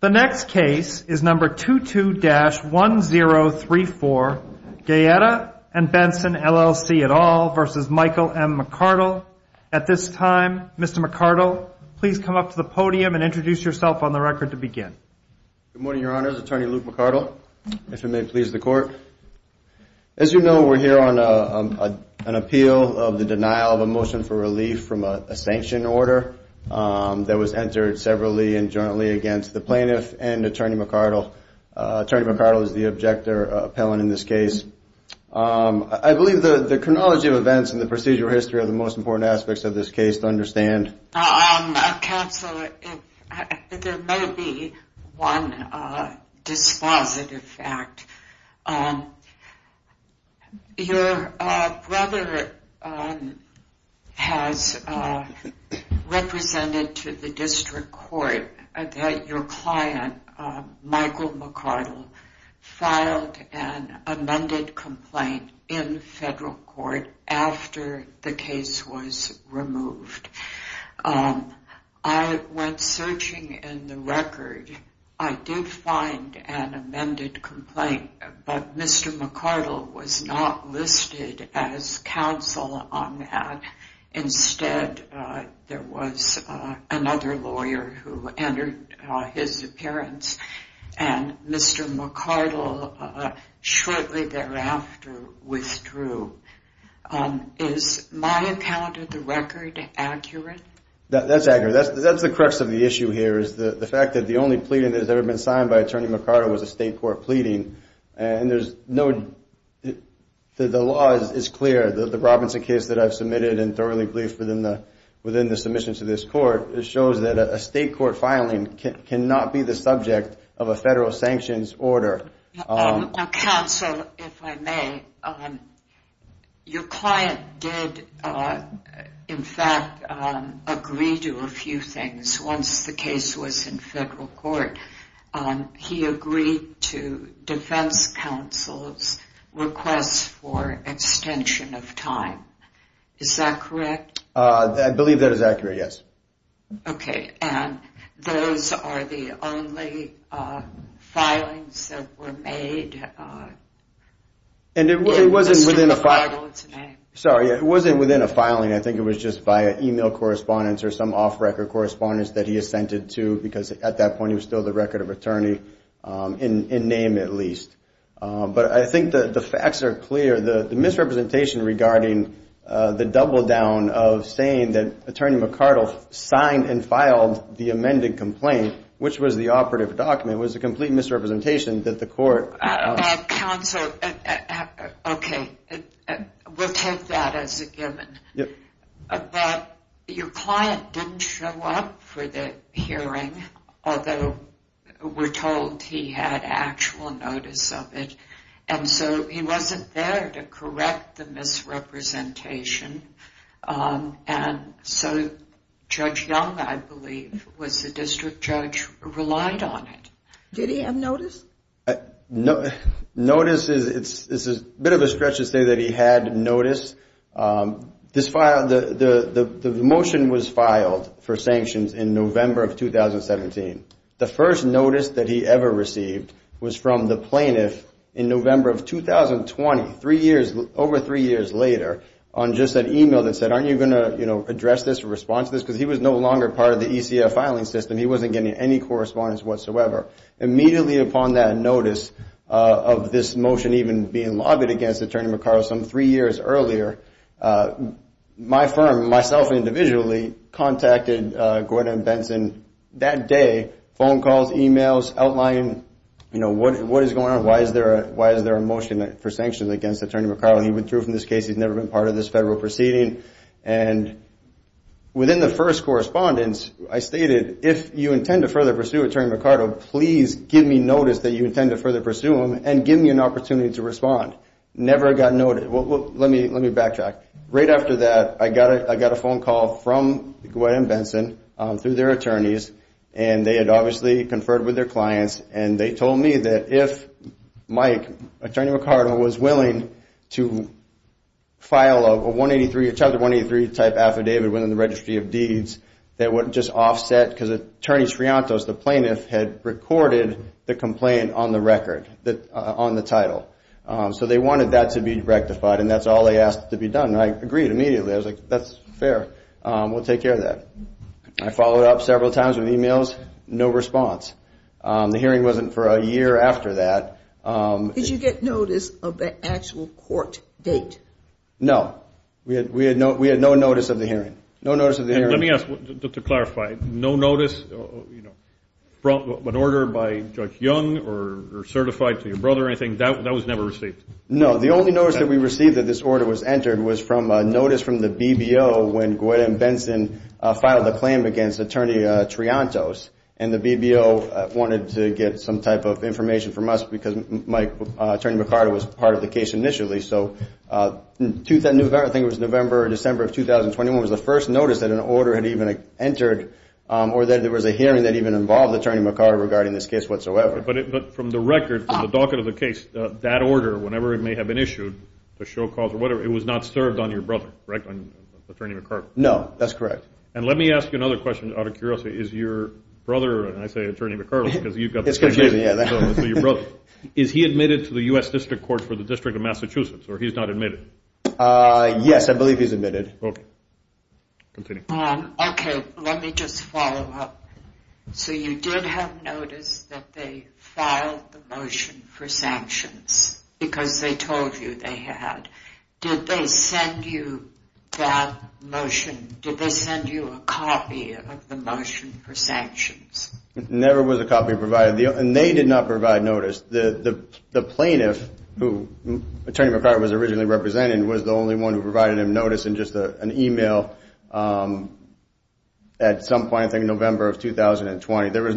The next case is number 22-1034, Guaetta & Benson, LLC v. Michael M. McArdle. At this time, Mr. McArdle, please come up to the podium and introduce yourself on the record to begin. Good morning, Your Honors. Attorney Luke McArdle, if it may please the Court. As you know, we're here on an appeal of the denial of a motion for relief from a sanction order that was entered severally and jointly against the plaintiff and Attorney McArdle. Attorney McArdle is the objector appellant in this case. I believe the chronology of events in the procedural history are the most important aspects of this case to understand. Counsel, there may be one dispositive fact. Your brother has represented to the District Court that your client, Michael McArdle, filed an amended complaint in federal court after the case was removed. I went searching in the record. I did find an amended complaint, but Mr. McArdle was not listed as counsel on that. Instead, there was another lawyer who entered his appearance, and Mr. McArdle shortly thereafter withdrew. Is my encounter with the record accurate? That's accurate. That's the crux of the issue here. The fact that the only pleading that has ever been signed by Attorney McArdle was a state court pleading. The law is clear. The Robinson case that I've submitted and thoroughly believe within the submission to this court shows that a state court filing cannot be the subject of a federal sanctions order. Counsel, if I may, your client did, in fact, agree to a few things once the case was in federal court. He agreed to defense counsel's request for extension of time. Is that correct? I believe that is accurate, yes. Okay, and those are the only filings that were made in Mr. McArdle's name? Sorry, it wasn't within a filing. I think it was just via email correspondence or some off-record correspondence that he assented to because at that point he was still the record of attorney, in name at least. But I think the facts are clear. The misrepresentation regarding the double down of saying that Attorney McArdle signed and filed the amended complaint, which was the operative document, was a complete misrepresentation that the court... Counsel, okay, we'll take that as a given. But your client didn't show up for the hearing, although we're told he had actual notice of it. And so he wasn't there to correct the misrepresentation. And so Judge Young, I believe, was the district judge, relied on it. Did he have notice? Notice is a bit of a stretch to say that he had notice. The motion was filed for sanctions in November of 2017. The first notice that he ever received was from the plaintiff in November of 2020, over three years later, on just an email that said, aren't you going to address this or respond to this? Because he was no longer part of the ECF filing system. He wasn't getting any correspondence whatsoever. Immediately upon that notice of this motion even being lobbied against Attorney McArdle some three years earlier, my firm, myself individually, contacted Gordon Benson that day, phone calls, emails, outlining what is going on, why is there a motion for sanctions against Attorney McArdle. He withdrew from this case. He's never been part of this federal proceeding. And within the first correspondence, I stated, if you intend to further pursue Attorney McArdle, please give me notice that you intend to further pursue him and give me an opportunity to respond. Never got noted. Let me backtrack. Right after that, I got a phone call from Gordon Benson through their attorneys, and they had obviously conferred with their clients, and they told me that if Mike, Attorney McArdle, was willing to file a Chapter 183 type affidavit within the Registry of Deeds, that would just offset, because Attorney Sriantos, the plaintiff, had recorded the complaint on the record, on the title. So they wanted that to be rectified, and that's all they asked to be done. I agreed immediately. I was like, that's fair. We'll take care of that. I followed up several times with emails. No response. The hearing wasn't for a year after that. Did you get notice of the actual court date? No. We had no notice of the hearing. No notice of the hearing. Let me ask, to clarify, no notice, an order by Judge Young or certified to your brother or anything, that was never received? No. The only notice that we received that this order was entered was from a notice from the BBO when Gordon Benson filed a claim against Attorney Sriantos, and the BBO wanted to get some type of information from us because Mike, Attorney McArdle, was part of the case initially. So I think it was November or December of 2021 was the first notice that an order had even entered, or that there was a hearing that even involved Attorney McArdle regarding this case whatsoever. But from the record, from the docket of the case, that order, whenever it may have been issued, the show calls or whatever, it was not served on your brother, right, on Attorney McArdle? No, that's correct. And let me ask you another question out of curiosity. Is your brother, and I say Attorney McArdle because you've got the same name, is he admitted to the U.S. District Court for the District of Massachusetts or he's not admitted? Yes, I believe he's admitted. Okay. Okay, let me just follow up. So you did have notice that they filed the motion for sanctions because they told you they had. Did they send you that motion? Did they send you a copy of the motion for sanctions? Never was a copy provided. And they did not provide notice. The plaintiff who Attorney McArdle was originally representing was the only one who provided him notice in just an e-mail at some point, I think November of 2020. There was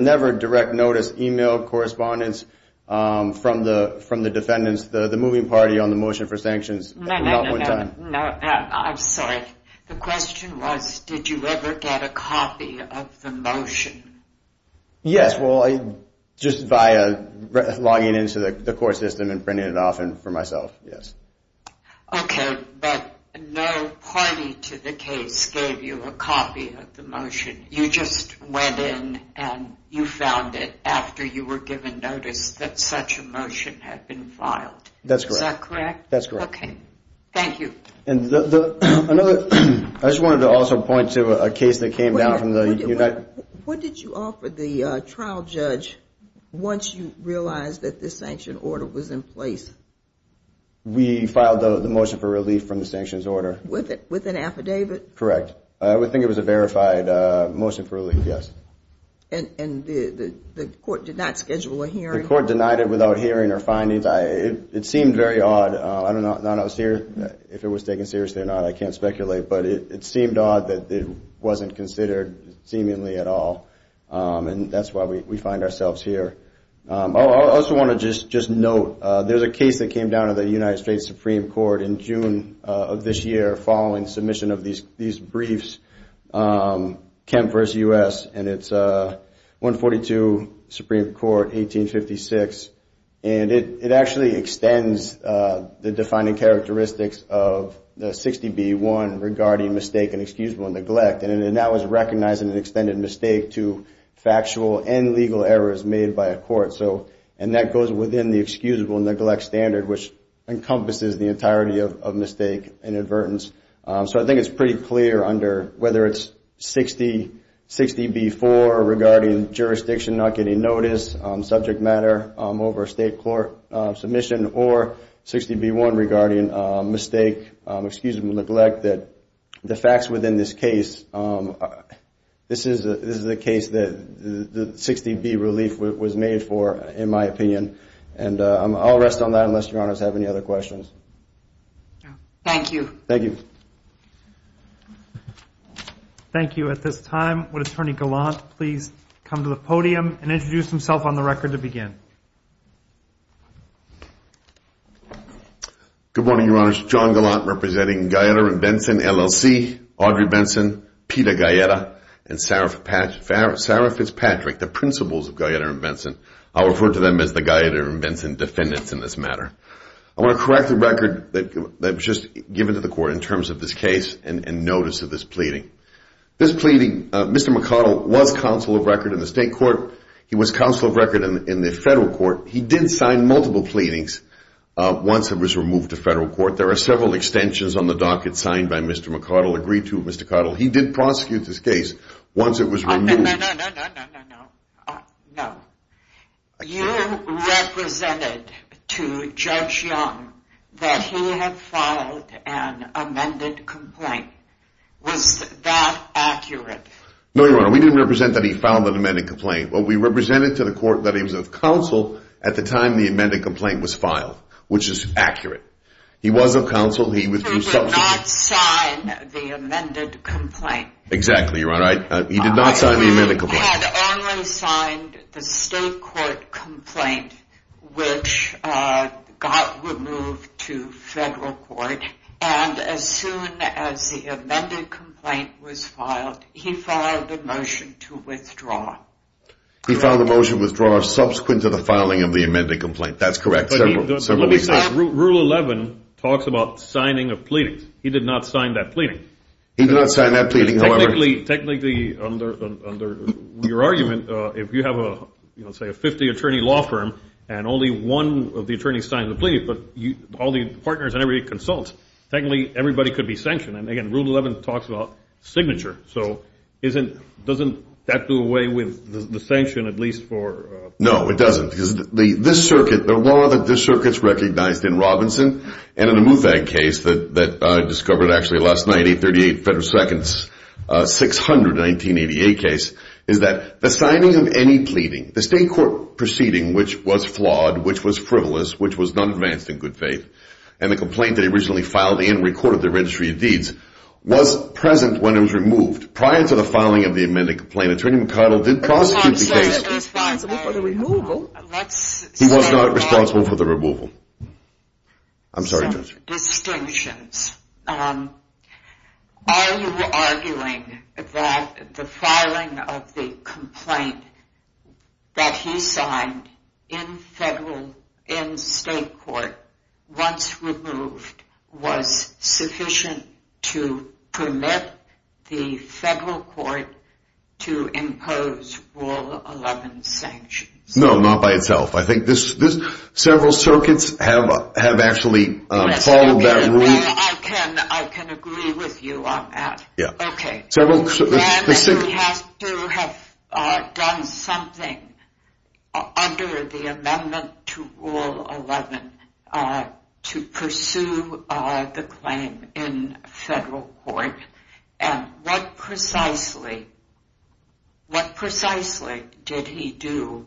never direct notice, e-mail correspondence from the defendants, the moving party on the motion for sanctions. No, no, no. I'm sorry. The question was did you ever get a copy of the motion? Yes, just by logging into the court system and printing it off for myself, yes. Okay, but no party to the case gave you a copy of the motion. You just went in and you found it after you were given notice that such a motion had been filed. That's correct. That's correct. Okay, thank you. I just wanted to also point to a case that came down from the United States. What did you offer the trial judge once you realized that the sanction order was in place? We filed the motion for relief from the sanctions order. With an affidavit? Correct. I would think it was a verified motion for relief, yes. And the court did not schedule a hearing? The court denied it without hearing or findings. It seemed very odd. I don't know if it was taken seriously or not. I can't speculate. But it seemed odd that it wasn't considered seemingly at all. And that's why we find ourselves here. I also want to just note there's a case that came down to the United States Supreme Court in June of this year following submission of these briefs. Kemp v. U.S. and it's 142 Supreme Court, 1856. And it actually extends the defining characteristics of the 60B1 regarding mistake and excusable neglect. And that was recognizing an extended mistake to factual and legal errors made by a court. And that goes within the excusable neglect standard, which encompasses the entirety of mistake and advertence. So I think it's pretty clear under whether it's 60B4 regarding jurisdiction not getting notice, subject matter over state court submission, or 60B1 regarding mistake, excusable neglect, that the facts within this case, this is the case that the 60B relief was made for, in my opinion. And I'll rest on that unless Your Honors have any other questions. Thank you. Thank you. Thank you. At this time, would Attorney Gallant please come to the podium and introduce himself on the record to begin. Good morning, Your Honors. John Gallant representing Gaeta and Benson LLC, Audrey Benson, Peter Gaeta, and Sarah Fitzpatrick, the principals of Gaeta and Benson. I'll refer to them as the Gaeta and Benson defendants in this matter. I want to correct the record that was just given to the court in terms of this case and notice of this pleading. This pleading, Mr. McArdle was counsel of record in the state court. He was counsel of record in the federal court. He did sign multiple pleadings once it was removed to federal court. There are several extensions on the docket signed by Mr. McArdle, agreed to by Mr. McArdle. He did prosecute this case once it was removed. No, no, no, no, no, no, no. You represented to Judge Young that he had filed an amended complaint. Was that accurate? No, Your Honor, we didn't represent that he filed an amended complaint. We represented to the court that he was of counsel at the time the amended complaint was filed, which is accurate. He was of counsel. He did not sign the amended complaint. Exactly, Your Honor. He did not sign the amended complaint. He had only signed the state court complaint, which got removed to federal court. And as soon as the amended complaint was filed, he filed a motion to withdraw. He filed a motion to withdraw subsequent to the filing of the amended complaint. That's correct. Rule 11 talks about signing of pleadings. He did not sign that pleading. He did not sign that pleading, however. Technically, under your argument, if you have, say, a 50-attorney law firm and only one of the attorneys signs a plea, but all the partners and everybody consults, technically everybody could be sanctioned. And, again, Rule 11 talks about signature. So doesn't that do away with the sanction at least for –? No, it doesn't because this circuit, the law that this circuit's recognized in Robinson and in the MUFAG case that I discovered actually last night, 838 Federal Seconds, 600, 1988 case, is that the signing of any pleading, the state court proceeding which was flawed, which was frivolous, which was not advanced in good faith, and the complaint that he originally filed and recorded in the Registry of Deeds was present when it was removed. Prior to the filing of the amended complaint, Attorney McConnell did prosecute the case. He was not responsible for the removal. He was not responsible for the removal. I'm sorry, Judge. Some distinctions. Are you arguing that the filing of the complaint that he signed in federal, in state court, once removed, was sufficient to permit the federal court to impose Rule 11 sanctions? No, not by itself. I think several circuits have actually followed that rule. I can agree with you on that. Yeah. Okay. He has to have done something under the amendment to Rule 11 to pursue the claim in federal court, and what precisely did he do?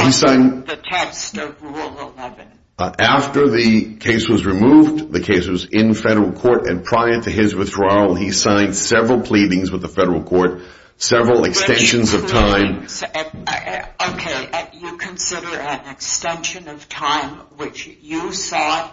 He signed the test of Rule 11. After the case was removed, the case was in federal court, and prior to his withdrawal he signed several pleadings with the federal court, several extensions of time. Okay. You consider an extension of time which you saw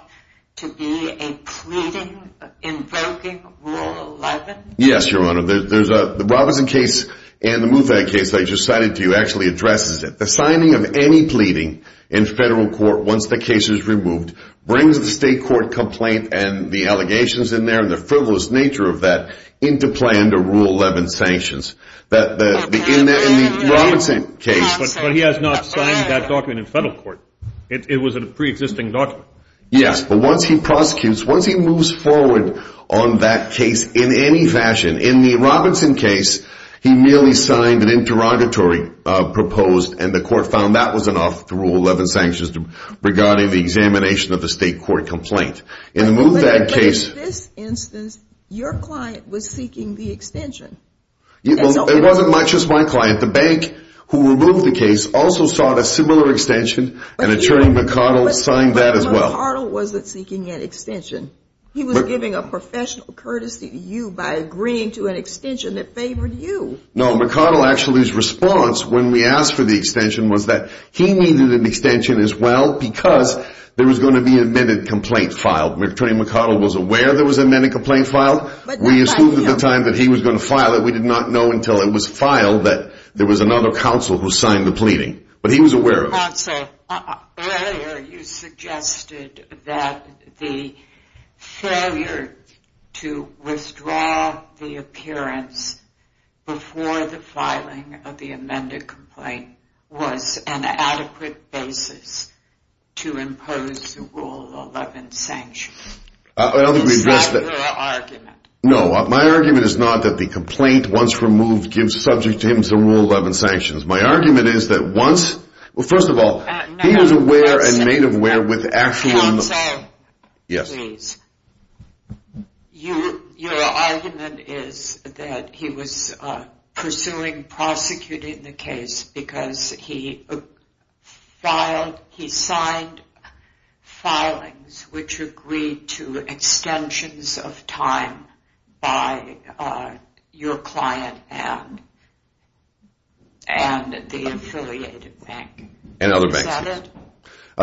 to be a pleading invoking Rule 11? Yes, Your Honor. The Robinson case and the Mufad case that I just cited to you actually addresses it. The signing of any pleading in federal court once the case is removed brings the state court complaint and the allegations in there and the frivolous nature of that into plan to Rule 11 sanctions. But he has not signed that document in federal court. It was a preexisting document. Yes, but once he prosecutes, once he moves forward on that case in any fashion in the Robinson case he merely signed an interrogatory proposed and the court found that was enough to Rule 11 sanctions regarding the examination of the state court complaint. But in this instance your client was seeking the extension. It wasn't just my client. The bank who removed the case also sought a similar extension, and Attorney McArdle signed that as well. But McArdle wasn't seeking an extension. He was giving a professional courtesy to you by agreeing to an extension that favored you. No, McArdle actually's response when we asked for the extension was that he needed an extension as well because there was going to be a minute complaint filed. Attorney McArdle was aware there was a minute complaint filed. We assumed at the time that he was going to file it. We did not know until it was filed that there was another counsel who signed the pleading. But he was aware of it. Counsel, earlier you suggested that the failure to withdraw the appearance before the filing of the amended complaint was an adequate basis to impose the Rule 11 sanctions. Is that your argument? No, my argument is not that the complaint once removed gives subject him to Rule 11 sanctions. My argument is that once—well, first of all, he was aware and made aware with actual— Counsel, please. Your argument is that he was pursuing prosecuting the case because he signed filings which agreed to extensions of time by your client and the affiliated bank. And other banks, yes. Is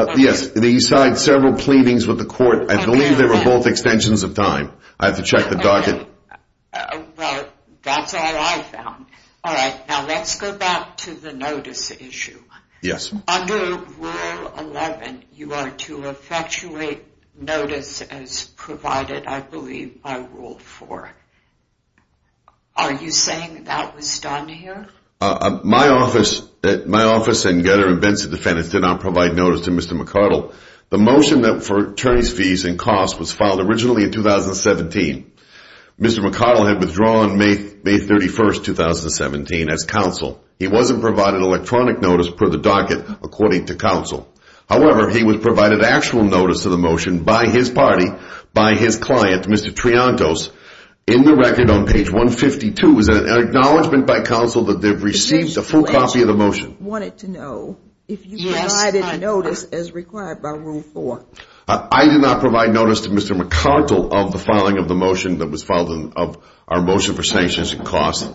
that it? Yes, he signed several pleadings with the court. I believe they were both extensions of time. I have to check the docket. Well, that's all I found. All right, now let's go back to the notice issue. Yes. Under Rule 11, you are to effectuate notice as provided, I believe, by Rule 4. Are you saying that was done here? My office and Getter and Benson defendants did not provide notice to Mr. McArdle. The motion for attorneys' fees and costs was filed originally in 2017. Mr. McArdle had withdrawn May 31, 2017 as counsel. He wasn't provided electronic notice per the docket according to counsel. However, he was provided actual notice of the motion by his party, by his client, Mr. Triantos. In the record on page 152 is an acknowledgment by counsel that they've received a full copy of the motion. I wanted to know if you provided notice as required by Rule 4. I did not provide notice to Mr. McArdle of the filing of the motion that was filed of our motion for sanctions and costs.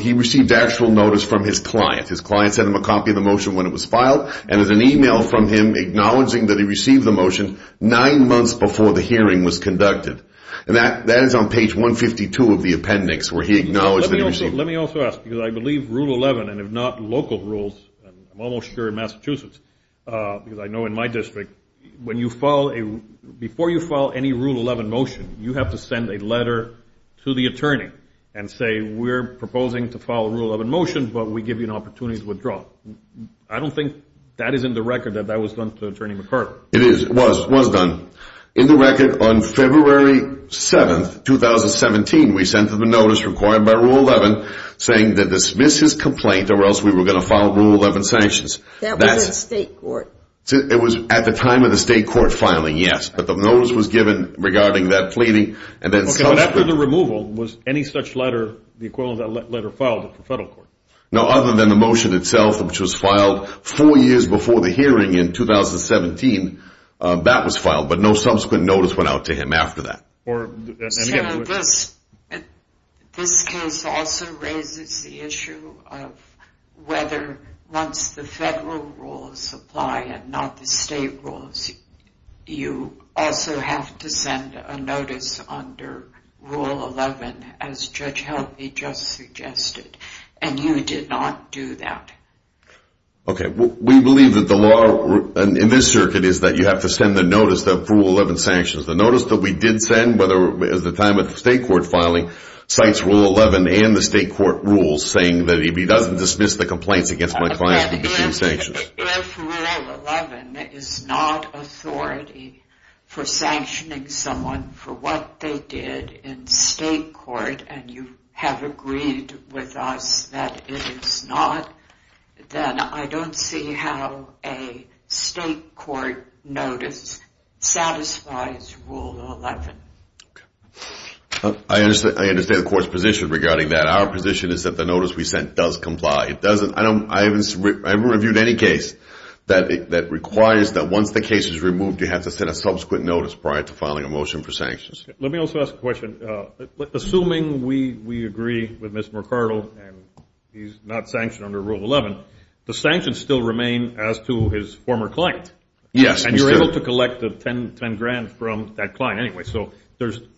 He received actual notice from his client. His client sent him a copy of the motion when it was filed, and there's an e-mail from him acknowledging that he received the motion nine months before the hearing was conducted. That is on page 152 of the appendix where he acknowledged that he received it. Let me also ask, because I believe Rule 11, and if not local rules, I'm almost sure Massachusetts, because I know in my district, before you file any Rule 11 motion, you have to send a letter to the attorney and say we're proposing to file a Rule 11 motion, but we give you an opportunity to withdraw. I don't think that is in the record that that was done to Attorney McArdle. It is. It was. It was done. In the record on February 7, 2017, we sent him a notice required by Rule 11 saying to dismiss his complaint or else we were going to file Rule 11 sanctions. That was in state court. It was at the time of the state court filing, yes. But the notice was given regarding that pleading. After the removal, was any such letter, the equivalent of that letter, filed at the federal court? No, other than the motion itself, which was filed four years before the hearing in 2017. That was filed, but no subsequent notice went out to him after that. So this case also raises the issue of whether once the federal rules apply and not the state rules, you also have to send a notice under Rule 11, as Judge Helvey just suggested. And you did not do that. Okay, we believe that the law in this circuit is that you have to send the notice of Rule 11 sanctions. The notice that we did send, at the time of the state court filing, cites Rule 11 and the state court rules saying that if he doesn't dismiss the complaints against my client, he will be sanctioned. If Rule 11 is not authority for sanctioning someone for what they did in state court and you have agreed with us that it is not, then I don't see how a state court notice satisfies Rule 11. I understand the court's position regarding that. Our position is that the notice we sent does comply. I haven't reviewed any case that requires that once the case is removed, you have to send a subsequent notice prior to filing a motion for sanctions. Let me also ask a question. Assuming we agree with Mr. McArdle and he's not sanctioned under Rule 11, the sanctions still remain as to his former client. Yes. And you're able to collect the $10,000 from that client anyway. So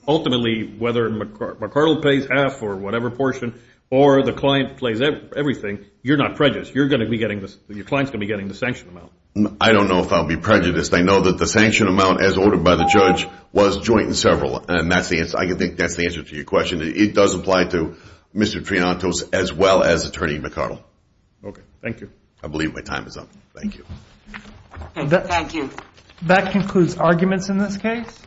ultimately, whether McArdle pays half or whatever portion or the client pays everything, you're not prejudiced. Your client's going to be getting the sanction amount. I don't know if I'll be prejudiced. I know that the sanction amount, as ordered by the judge, was joint and several. I think that's the answer to your question. It does apply to Mr. Triantos as well as Attorney McArdle. Okay. Thank you. I believe my time is up. Thank you. Thank you. That concludes arguments in this case.